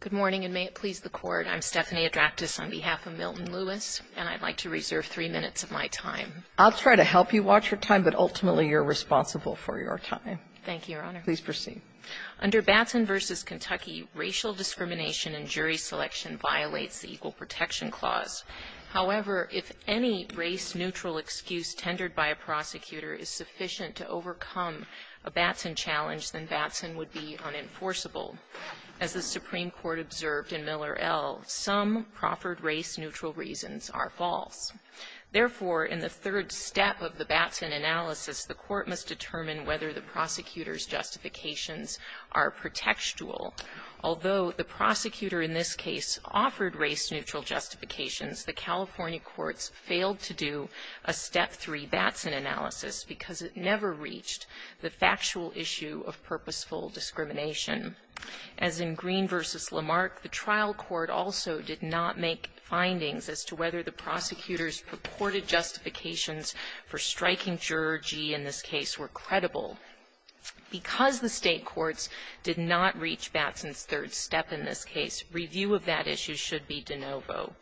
Good morning, and may it please the Court, I'm Stephanie Adraptis on behalf of Milton Lewis, and I'd like to reserve three minutes of my time. I'll try to help you watch your time, but ultimately you're responsible for your time. Thank you, Your Honor. Please proceed. Under Batson v. Kentucky, racial discrimination in jury selection violates the Equal Protection Clause. However, if any race-neutral excuse tendered by a prosecutor is sufficient to overcome a Batson challenge, then Batson would be unenforceable. As the Supreme Court observed in Miller, L., some proffered race-neutral reasons are false. Therefore, in the third step of the Batson analysis, the Court must determine whether the prosecutor's justifications are pretextual. Although the prosecutor in this case offered race-neutral justifications, the California courts failed to do a step three Batson analysis because it never reached the factual issue of purposeful discrimination. As in Green v. Lamarck, the trial court also did not make findings as to whether the prosecutor's purported justifications for striking juror G in this case were credible. Because the State courts did not reach Batson's third step in this case, review of that issue should be de novo.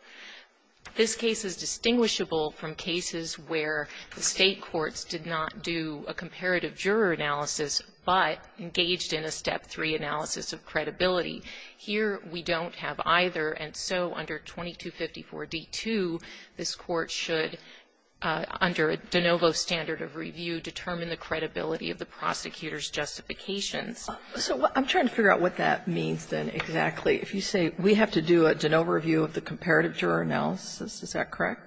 This case is distinguishable from cases where the State courts did not do a comparative juror analysis, but engaged in a step three analysis of credibility. Here, we don't have either, and so under 2254d2, this Court should, under a de novo standard of review, determine the credibility of the prosecutor's justifications. So I'm trying to figure out what that means, then, exactly. If you say we have to do a de novo review of the comparative juror analysis, is that correct?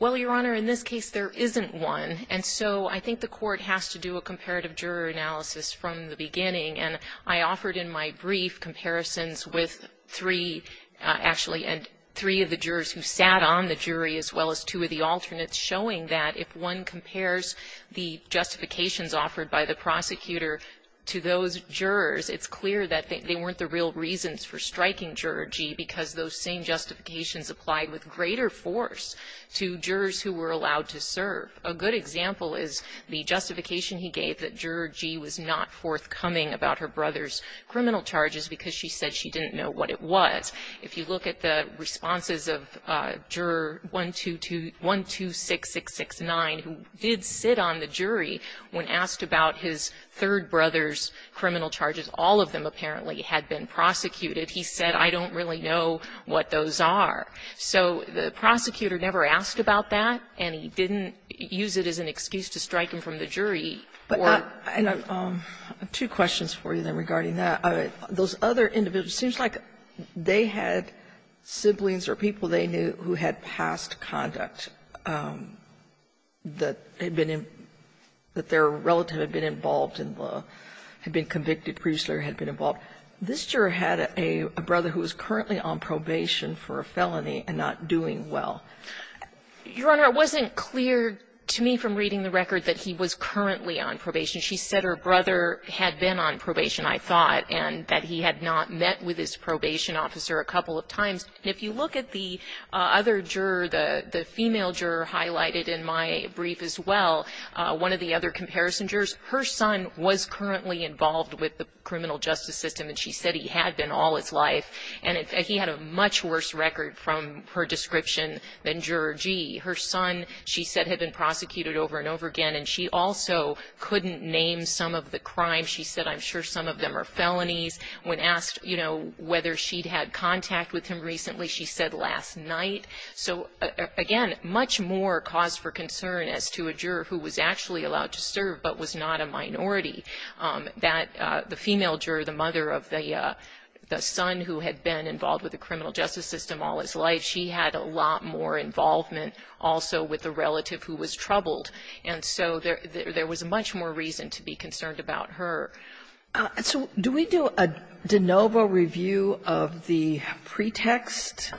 Well, Your Honor, in this case, there isn't one. And so I think the Court has to do a comparative juror analysis from the beginning. And I offered in my brief comparisons with three, actually, and three of the jurors who sat on the jury, as well as two of the alternates, showing that if one compares the justifications offered by the prosecutor to those jurors, it's clear that they weren't the real reasons for striking Juror G, because those same justifications applied with greater force to jurors who were allowed to serve. A good example is the justification he gave that Juror G was not forthcoming about her brother's criminal charges because she said she didn't know what it was. If you look at the responses of Juror 122 126669, who did sit on the jury when asked about his third brother's criminal charges, all of them apparently had been prosecuted, he said, I don't really know what those are. So the prosecutor never asked about that, and he didn't use it as an excuse to strike him from the jury or the jury. And I have two questions for you, then, regarding that. Those other individuals, it seems like they had siblings or people they knew who had past conduct that had been in, that their relative had been involved in the, had been convicted previously or had been involved. This juror had a brother who was currently on probation for a felony and not doing well. Your Honor, it wasn't clear to me from reading the record that he was currently on probation. She said her brother had been on probation, I thought, and that he had not met with his probation officer a couple of times. And if you look at the other juror, the female juror highlighted in my brief as well, one of the other comparison jurors, her son was currently involved with the criminal justice system, and she said he had been all his life. And he had a much worse record from her description than Juror G. Her son, she said, had been prosecuted over and over again. And she also couldn't name some of the crimes. She said, I'm sure some of them are felonies. When asked, you know, whether she'd had contact with him recently, she said, last night. So, again, much more cause for concern as to a juror who was actually allowed to serve but was not a minority, that the female juror, the mother of the son who had been involved with the criminal justice system all his life. She had a lot more involvement also with the relative who was troubled. And so there was much more reason to be concerned about her. Sotomayor, do we do a de novo review of the pretext,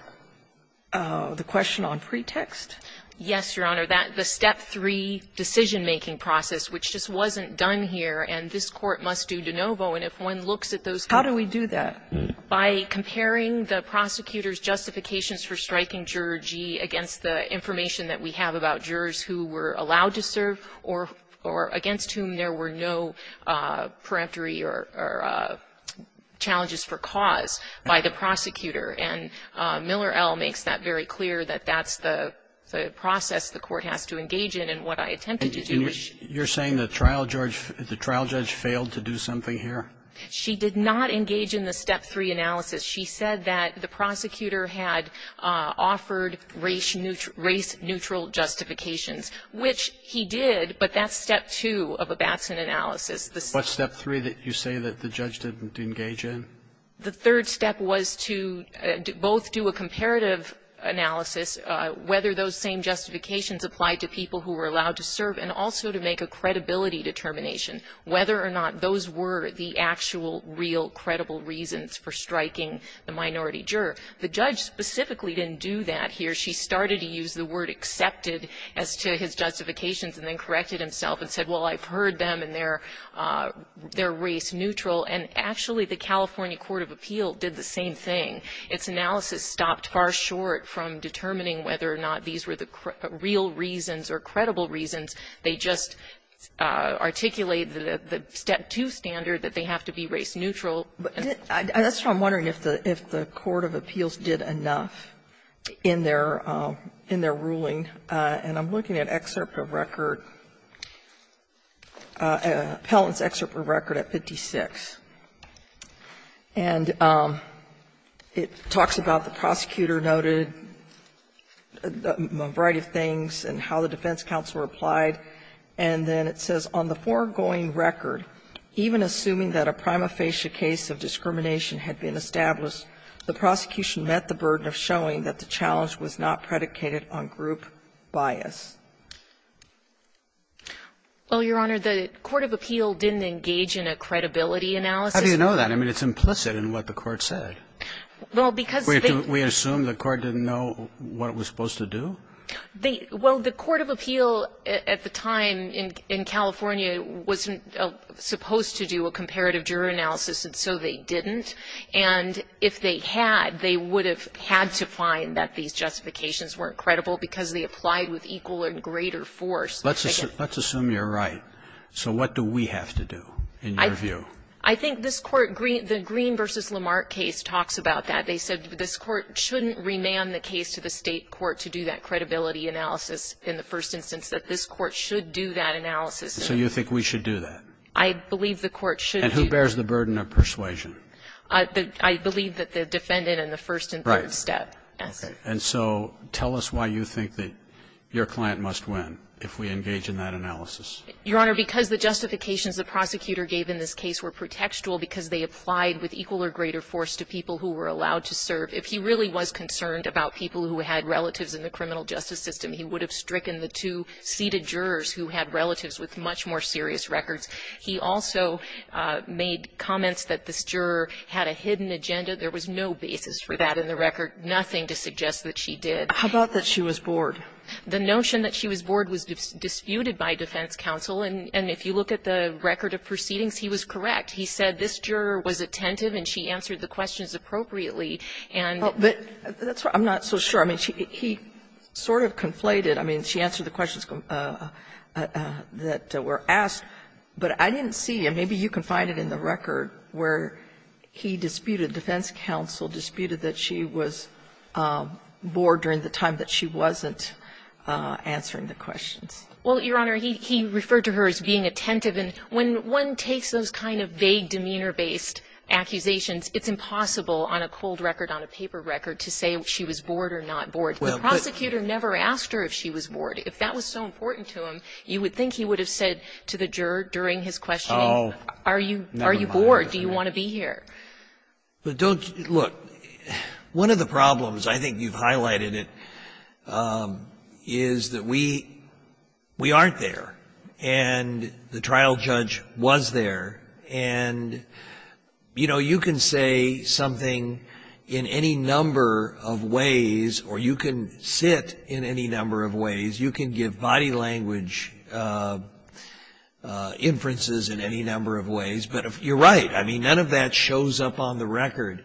the question on pretext? Yes, Your Honor. The step three decision-making process, which just wasn't done here, and this Court must do de novo. And if one looks at those. How do we do that? By comparing the prosecutor's justifications for striking juror G against the information that we have about jurors who were allowed to serve or against whom there were no peremptory or challenges for cause by the prosecutor. And Miller L. makes that very clear, that that's the process the Court has to engage in. And what I attempted to do was she You're saying the trial judge failed to do something here? She did not engage in the step three analysis. She said that the prosecutor had offered race neutral justifications, which he did. But that's step two of a Batson analysis. What's step three that you say that the judge didn't engage in? The third step was to both do a comparative analysis, whether those same justifications applied to people who were allowed to serve and also to make a credibility determination. Whether or not those were the actual real credible reasons for striking the minority juror. The judge specifically didn't do that here. She started to use the word accepted as to his justifications and then corrected himself and said, well, I've heard them and they're race neutral. And actually, the California Court of Appeal did the same thing. Its analysis stopped far short from determining whether or not these were the real reasons or credible reasons. They just articulated the step two standard that they have to be race neutral. And that's why I'm wondering if the Court of Appeals did enough in their ruling. And I'm looking at excerpt of record, appellant's excerpt of record at 56. And it talks about the prosecutor noted a variety of things and how the defense counsel replied. And then it says, on the foregoing record, even assuming that a prima facie case of discrimination had been established, the prosecution met the burden of showing that the challenge was not predicated on group bias. Well, Your Honor, the Court of Appeal didn't engage in a credibility analysis. How do you know that? I mean, it's implicit in what the court said. Well, because they- We assume the court didn't know what it was supposed to do? They – well, the Court of Appeal at the time in California wasn't supposed to do a comparative juror analysis, and so they didn't. And if they had, they would have had to find that these justifications weren't credible because they applied with equal and greater force. Let's assume you're right. So what do we have to do, in your view? I think this Court – the Green v. Lamarck case talks about that. They said this Court shouldn't remand the case to the State court to do that credibility analysis in the first instance, that this Court should do that analysis. So you think we should do that? I believe the court should do- And who bears the burden of persuasion? I believe that the defendant in the first and third step. Right. Okay. And so tell us why you think that your client must win if we engage in that analysis. Your Honor, because the justifications the prosecutor gave in this case were pretextual because they applied with equal or greater force to people who were allowed to serve. If he really was concerned about people who had relatives in the criminal justice system, he would have stricken the two seated jurors who had relatives with much more serious records. He also made comments that this juror had a hidden agenda. There was no basis for that in the record, nothing to suggest that she did. How about that she was bored? The notion that she was bored was disputed by defense counsel. And if you look at the record of proceedings, he was correct. He said this juror was attentive and she answered the questions appropriately. And- But that's what I'm not so sure. I mean, he sort of conflated. I mean, she answered the questions that were asked, but I didn't see, and maybe you can find it in the record, where he disputed, defense counsel disputed that she was bored during the time that she wasn't answering the questions. Well, Your Honor, he referred to her as being attentive. And when one takes those kind of vague demeanor-based accusations, it's impossible on a cold record, on a paper record, to say if she was bored or not bored. The prosecutor never asked her if she was bored. If that was so important to him, you would think he would have said to the juror during his questioning, are you bored, do you want to be here? But don't you look, one of the problems, I think you've highlighted it, is that we aren't there, and the trial judge was there. And you can say something in any number of ways, or you can sit in any number of ways. You can give body language inferences in any number of ways. But you're right, I mean, none of that shows up on the record.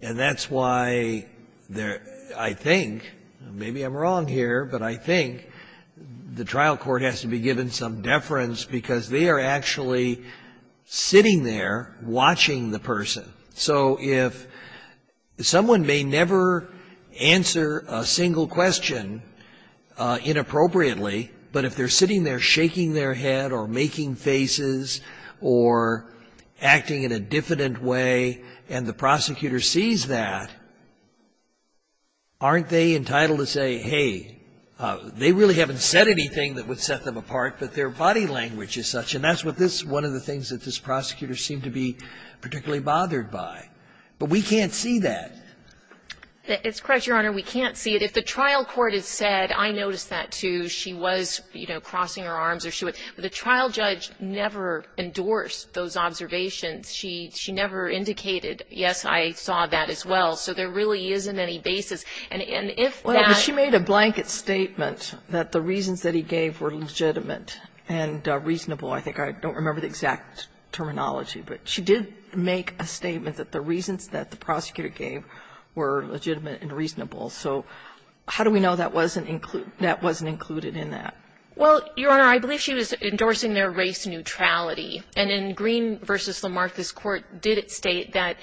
And that's why I think, maybe I'm wrong here, but I think the trial court has to be given some deference, because they are actually sitting there watching the person. So if someone may never answer a single question inappropriately, but if they're sitting there shaking their head, or making faces, or acting in a diffident way, and the prosecutor sees that, aren't they entitled to say, hey, they really haven't said anything that would set them apart, but their body language is such. And that's what this, one of the things that this prosecutor seemed to be particularly bothered by. But we can't see that. It's correct, Your Honor, we can't see it. If the trial court had said, I noticed that, too, she was, you know, crossing her arms, or she would, but the trial judge never endorsed those observations. She never indicated, yes, I saw that as well. So there really isn't any basis. And if that- Well, but she made a blanket statement that the reasons that he gave were legitimate and reasonable. I think I don't remember the exact terminology, but she did make a statement that the reasons that the prosecutor gave were legitimate and reasonable. So how do we know that wasn't included in that? Well, Your Honor, I believe she was endorsing their race neutrality. And in Green v. Lamartha's court, did it state that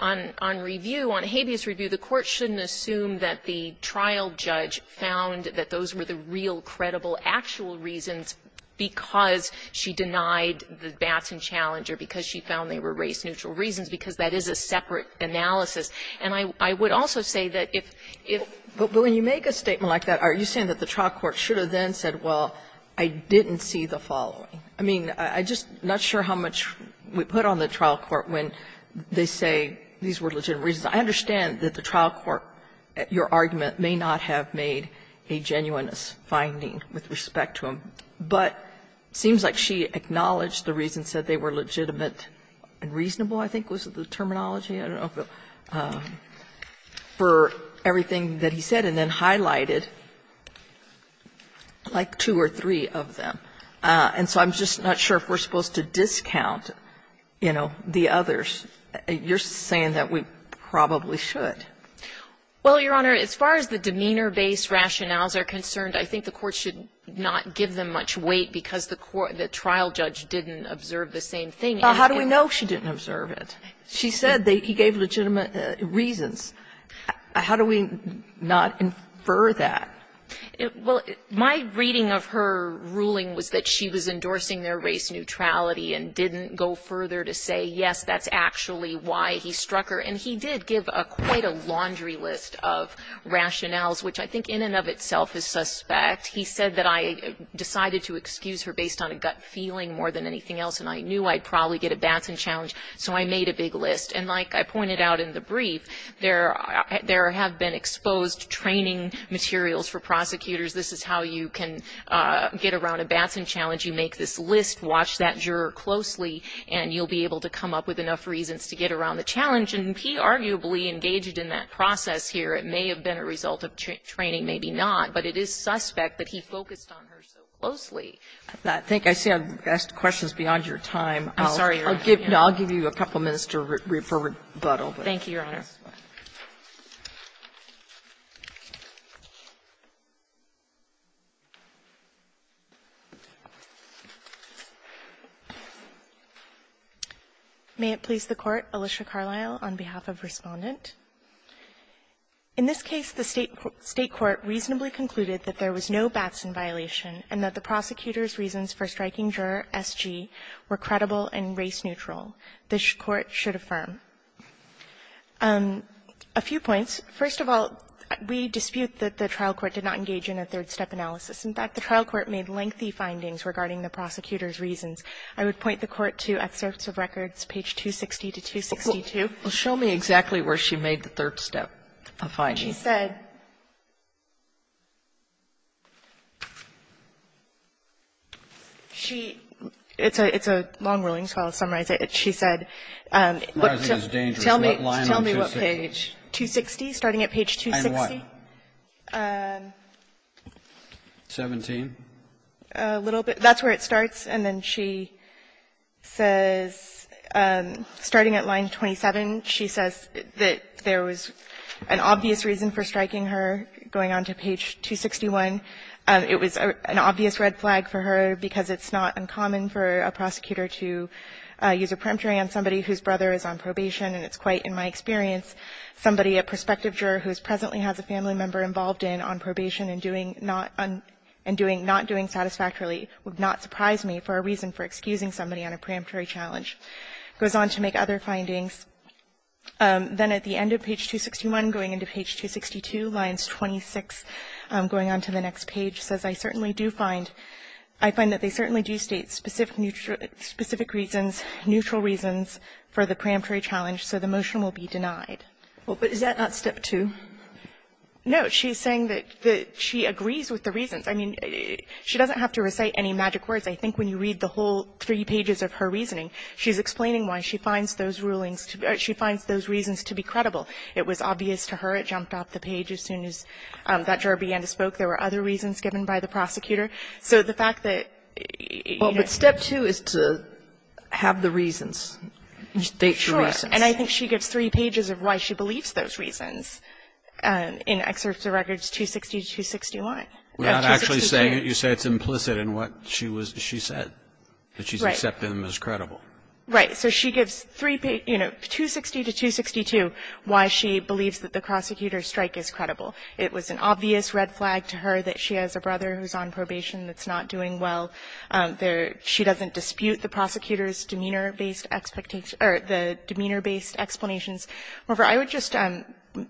on review, on habeas review, the court shouldn't assume that the trial judge found that those were the real, credible, actual reasons because she denied the Batson challenger, because she found they were race-neutral reasons, because that is a separate analysis. And I would also say that if- But when you make a statement like that, are you saying that the trial court should have then said, well, I didn't see the following? I mean, I'm just not sure how much we put on the trial court when they say these were legitimate reasons. I understand that the trial court, at your argument, may not have made a genuineness finding with respect to him. But it seems like she acknowledged the reasons that they were legitimate and reasonable, I think was the terminology, I don't know, for everything that he said, and then highlighted, like, two or three of them. And so I'm just not sure if we're supposed to discount, you know, the others. You're saying that we probably should. Well, Your Honor, as far as the demeanor-based rationales are concerned, I think the court should not give them much weight because the trial judge didn't observe the same thing. Well, how do we know she didn't observe it? She said he gave legitimate reasons. How do we not infer that? Well, my reading of her ruling was that she was endorsing their race neutrality and didn't go further to say, yes, that's actually why he struck her. And he did give quite a laundry list of rationales, which I think in and of itself is suspect. He said that I decided to excuse her based on a gut feeling more than anything else, and I knew I'd probably get a Batson challenge, so I made a big list. And like I pointed out in the brief, there have been exposed training materials for prosecutors. This is how you can get around a Batson challenge. You make this list, watch that juror closely, and you'll be able to come up with enough reasons to get around the challenge. And he arguably engaged in that process here. It may have been a result of training, maybe not, but it is suspect that he focused on her so closely. I think I see I've asked questions beyond your time. Thank you, Your Honor. May it please the Court, Alicia Carlisle, on behalf of Respondent. In this case, the State court reasonably concluded that there was no Batson violation and that the prosecutor's reasons for striking juror S.G. were credible and race neutral. This Court should affirm. A few points. First of all, we dispute that the trial court did not engage in a third-step analysis. In fact, the trial court made lengthy findings regarding the prosecutor's reasons. I would point the Court to excerpts of records, page 260 to 262. Sotomayor, show me exactly where she made the third-step finding. She said she – it's a long ruling, so I'll summarize it. She said, but tell me – tell me what page, 260, starting at page 260? And what? 17? A little bit. That's where it starts. And then she says, starting at line 27, she says that there was an obvious reason for striking her going on to page 261. It was an obvious red flag for her because it's not uncommon for a prosecutor to use a preemptory on somebody whose brother is on probation, and it's quite, in my experience, somebody, a prospective juror who presently has a family member involved in on probation and doing – not doing satisfactorily would not surprise me for a reason for excusing somebody on a preemptory challenge. It goes on to make other findings. Then at the end of page 261, going into page 262, lines 26, going on to the next page, she says that there were no specific reasons, neutral reasons, for the preemptory challenge, so the motion will be denied. Well, but is that not step two? No. She's saying that she agrees with the reasons. I mean, she doesn't have to recite any magic words. I think when you read the whole three pages of her reasoning, she's explaining why she finds those rulings – she finds those reasons to be credible. It was obvious to her. It jumped off the page as soon as that juror began to spoke. There were other reasons given by the prosecutor. So the fact that, you know – Well, but step two is to have the reasons, state the reasons. Sure. And I think she gives three pages of why she believes those reasons in Excerpt of Records 260-261. We're not actually saying it. You say it's implicit in what she was – she said, that she's accepting them as credible. Right. So she gives three – you know, 260-262, why she believes that the prosecutor's strike is credible. It was an obvious red flag to her that she has a brother who's on probation that's not doing well. There – she doesn't dispute the prosecutor's demeanor-based expectations – or the demeanor-based explanations. However, I would just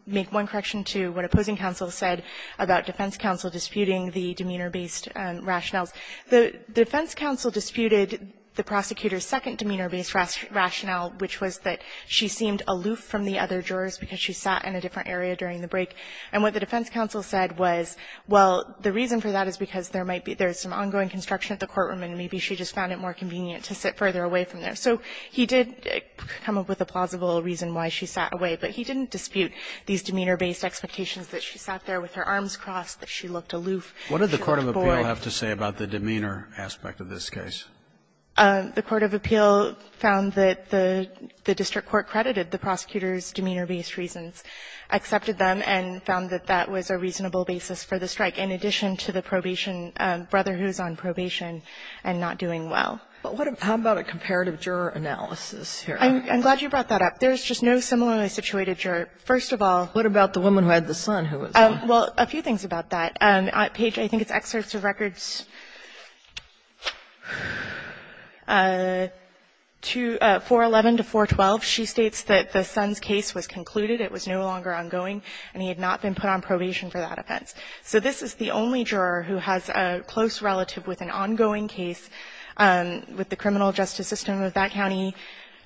make one correction to what opposing counsel said about defense counsel disputing the demeanor-based rationales. The defense counsel disputed the prosecutor's second demeanor-based rationale, which was that she seemed aloof from the other jurors because she sat in a different area during the break. And what the defense counsel said was, well, the reason for that is because there might be – there's some ongoing construction at the courtroom and maybe she just found it more convenient to sit further away from there. So he did come up with a plausible reason why she sat away, but he didn't dispute these demeanor-based expectations that she sat there with her arms crossed, that she looked aloof, she looked bored. Roberts, what did the court of appeal have to say about the demeanor aspect of this case? The court of appeal found that the district court credited the prosecutor's and found that that was a reasonable basis for the strike, in addition to the probation – brother who's on probation and not doing well. But what about a comparative juror analysis here? I'm glad you brought that up. There's just no similarly situated juror. First of all – What about the woman who had the son who was on probation? Well, a few things about that. Page, I think it's excerpts of records 411 to 412. She states that the son's case was concluded, it was no longer ongoing, and he had not been put on probation for that offense. So this is the only juror who has a close relative with an ongoing case with the criminal justice system of that county,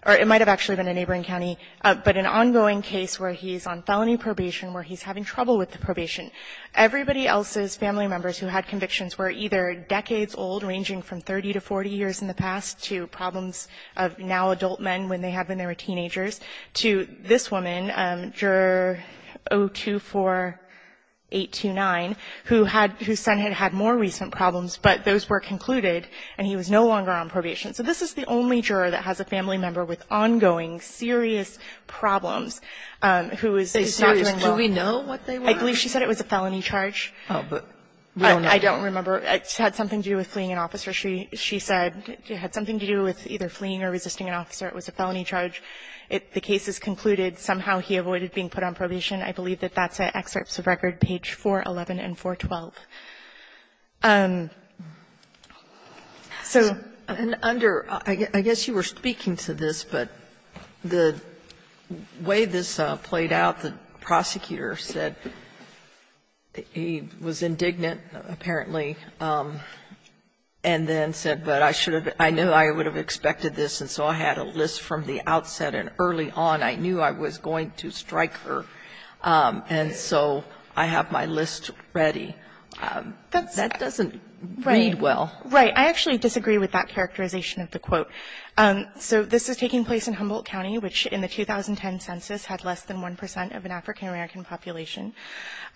or it might have actually been a neighboring county, but an ongoing case where he's on felony probation, where he's having trouble with the probation. Everybody else's family members who had convictions were either decades old, ranging from 30 to 40 years in the past, to problems of now adult men when they had them 829, whose son had had more recent problems, but those were concluded, and he was no longer on probation. So this is the only juror that has a family member with ongoing, serious problems who is not doing well. Do we know what they were? I believe she said it was a felony charge. Oh, but we don't know. I don't remember. It had something to do with fleeing an officer. She said it had something to do with either fleeing or resisting an officer. It was a felony charge. The case is concluded. Somehow he avoided being put on probation. I believe that that's at Excerpts of Record, page 411 and 412. So under the way this played out, the prosecutor said he was indignant, apparently. And then said, but I should have been, I knew I would have expected this, and so I had a list from the outset. And early on, I knew I was going to strike her, and so I have my list ready. That doesn't read well. Right. I actually disagree with that characterization of the quote. So this is taking place in Humboldt County, which in the 2010 census had less than 1 percent of an African-American population.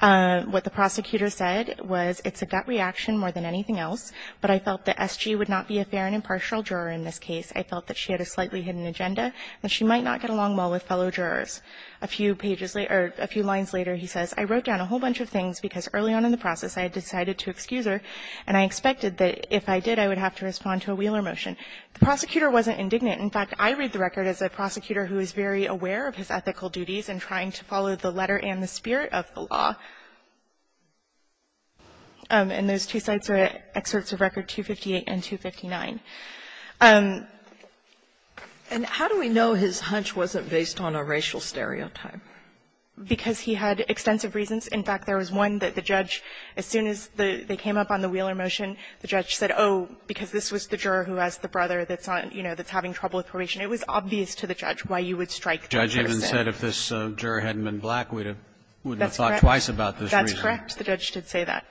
What the prosecutor said was, it's a gut reaction more than anything else, but I felt that S.G. would not be a fair and impartial juror in this case. I felt that she had a slightly hidden agenda, and she might not get along well with fellow jurors. A few pages later or a few lines later, he says, I wrote down a whole bunch of things because early on in the process, I had decided to excuse her, and I expected that if I did, I would have to respond to a Wheeler motion. The prosecutor wasn't indignant. In fact, I read the record as a prosecutor who is very aware of his ethical duties and trying to follow the letter and the spirit of the law. And those two sites are at Excerpts of Record 258 and 259. And how do we know his hunch wasn't based on a racial stereotype? Because he had extensive reasons. In fact, there was one that the judge, as soon as they came up on the Wheeler motion, the judge said, oh, because this was the juror who has the brother that's on, you know, that's having trouble with probation. It was obvious to the judge why you would strike that person. The judge even said if this juror hadn't been black, we would have thought twice about this reason. That's correct. The judge did say that.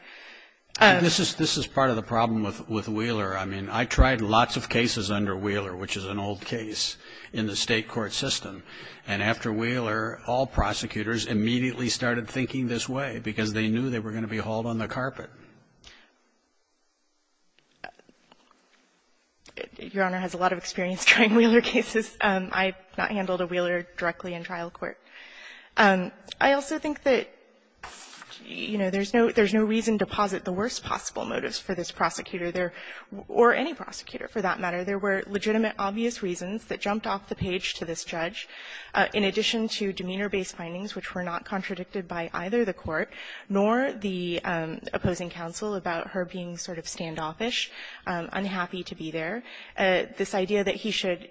This is part of the problem with Wheeler. I mean, I tried lots of cases under Wheeler, which is an old case in the State court system. And after Wheeler, all prosecutors immediately started thinking this way because they knew they were going to be hauled on the carpet. Your Honor has a lot of experience trying Wheeler cases. I have not handled a Wheeler directly in trial court. I also think that, you know, there's no reason to posit the worst possible motives for this prosecutor. There or any prosecutor, for that matter, there were legitimate, obvious reasons that jumped off the page to this judge, in addition to demeanor-based findings which were not contradicted by either the court nor the opposing counsel about her being sort of standoffish, unhappy to be there. This idea that he should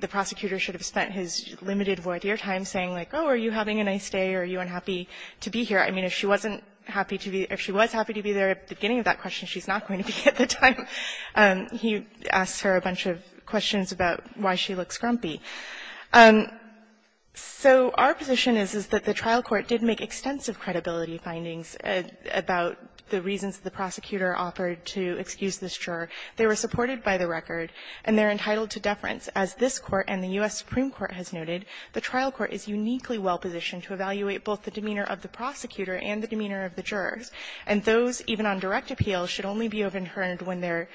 the prosecutor should have spent his limited void year time saying, like, oh, are you having a nice day or are you unhappy to be here. I mean, if she wasn't happy to be or if she was happy to be there at the beginning of that question, she's not going to be at the time. He asks her a bunch of questions about why she looks grumpy. So our position is, is that the trial court did make extensive credibility findings about the reasons the prosecutor offered to excuse this juror. They were supported by the record, and they're entitled to deference. As this Court and the U.S. Supreme Court has noted, the trial court is uniquely well positioned to evaluate both the demeanor of the prosecutor and the demeanor of the jurors. And those, even on direct appeal, should only be overturned when they're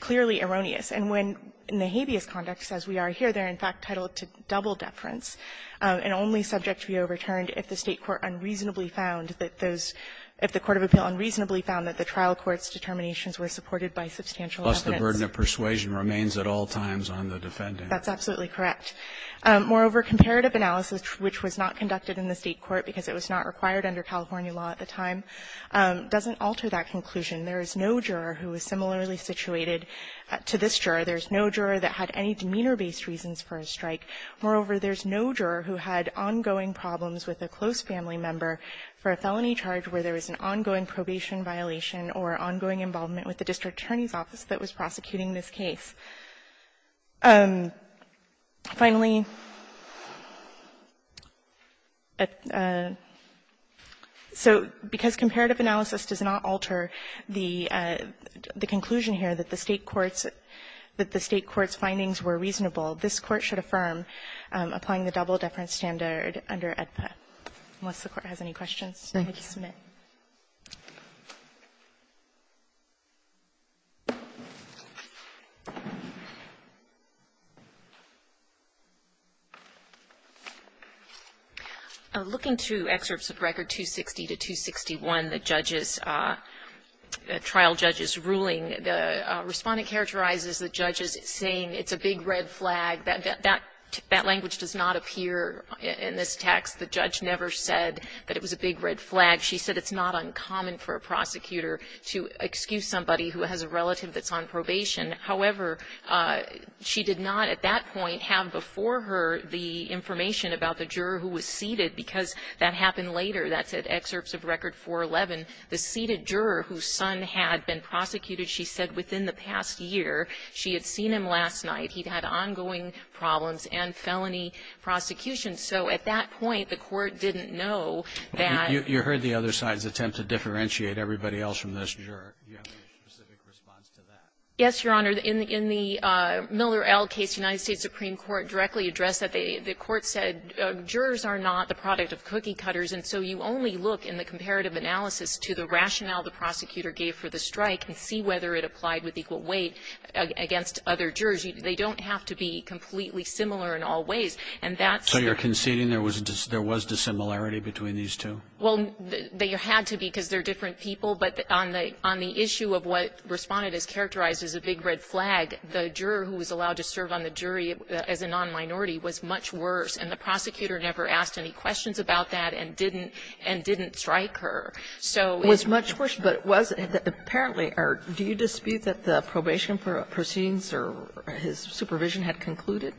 clearly erroneous. And when in the habeas conduct, as we are here, they're in fact titled to double deference, and only subject to be overturned if the State court unreasonably found that those – if the court of appeal unreasonably found that the trial court's determinations were supported by substantial evidence. Roberts, the burden of persuasion remains at all times on the defendant. That's absolutely correct. Moreover, comparative analysis, which was not conducted in the State court because it was not required under California law at the time. It doesn't alter that conclusion. There is no juror who is similarly situated to this juror. There's no juror that had any demeanor-based reasons for a strike. Moreover, there's no juror who had ongoing problems with a close family member for a felony charge where there was an ongoing probation violation or ongoing involvement with the district attorney's office that was prosecuting this case. Finally, so because comparative analysis does not alter the conclusion here that the State court's – that the State court's findings were reasonable, this Court should affirm applying the double deference standard under AEDPA, unless the Court has any questions. Roberts, thank you. Smith. Looking to excerpts of Record 260 to 261, the judge's – the trial judge's ruling, the Respondent characterizes the judge as saying it's a big red flag, that – that language does not appear in this text. The judge never said that it was a big red flag. She said it's not uncommon for a prosecutor to excuse somebody who has a relative that's on probation. However, she did not at that point have before her the information about the juror who was seated, because that happened later. That's at excerpts of Record 411. The seated juror whose son had been prosecuted, she said within the past year, she had seen him last night. He'd had ongoing problems and felony prosecution. So you heard the other side's attempt to differentiate everybody else from this juror. Do you have a specific response to that? Yes, Your Honor. In the Miller L. case, the United States Supreme Court directly addressed that. The Court said jurors are not the product of cookie cutters, and so you only look in the comparative analysis to the rationale the prosecutor gave for the strike and see whether it applied with equal weight against other jurors. They don't have to be completely similar in all ways. And that's the – So you're conceding there was – there was dissimilarity between these two? Well, there had to be, because they're different people. But on the issue of what Respondent has characterized as a big red flag, the juror who was allowed to serve on the jury as a nonminority was much worse. And the prosecutor never asked any questions about that and didn't strike her. So it's much worse. But it was – apparently, do you dispute that the probation proceedings or his supervision had concluded?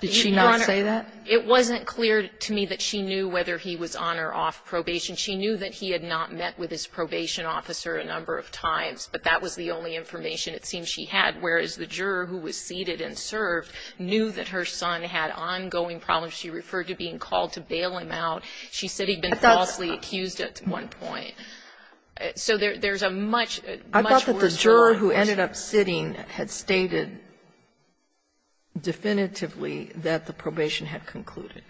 Did she not say that? It wasn't clear to me that she knew whether he was on or off probation. She knew that he had not met with his probation officer a number of times, but that was the only information it seems she had, whereas the juror who was seated and served knew that her son had ongoing problems. She referred to being called to bail him out. She said he'd been falsely accused at one point. So there's a much, much worse jurisdiction. I thought that the juror who ended up sitting had stated definitively that the probation had concluded.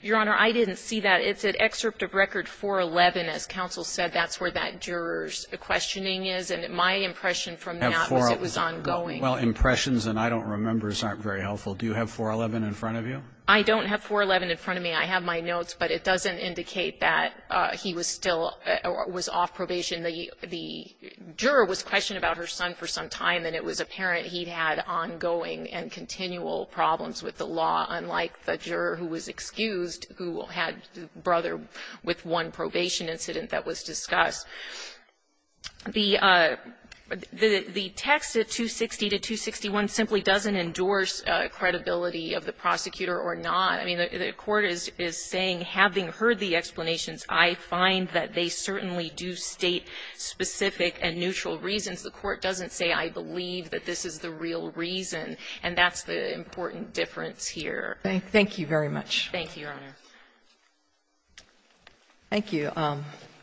Your Honor, I didn't see that. It said excerpt of record 411. As counsel said, that's where that juror's questioning is. And my impression from that was it was ongoing. Well, impressions and I-don't-remembers aren't very helpful. Do you have 411 in front of you? I don't have 411 in front of me. I have my notes. But it doesn't indicate that he was still – was off probation. The juror was questioned about her son for some time, and it was apparent he'd had the juror who was excused who had the brother with one probation incident that was discussed. The text of 260 to 261 simply doesn't endorse credibility of the prosecutor or not. I mean, the Court is saying, having heard the explanations, I find that they certainly do state specific and neutral reasons. The Court doesn't say, I believe that this is the real reason. And that's the important difference here. Thank you very much. Thank you, Your Honor. Thank you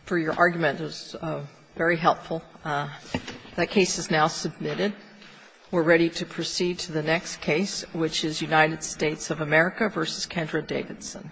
for your argument. It was very helpful. That case is now submitted. We're ready to proceed to the next case, which is United States of America v. Kendra Davidson.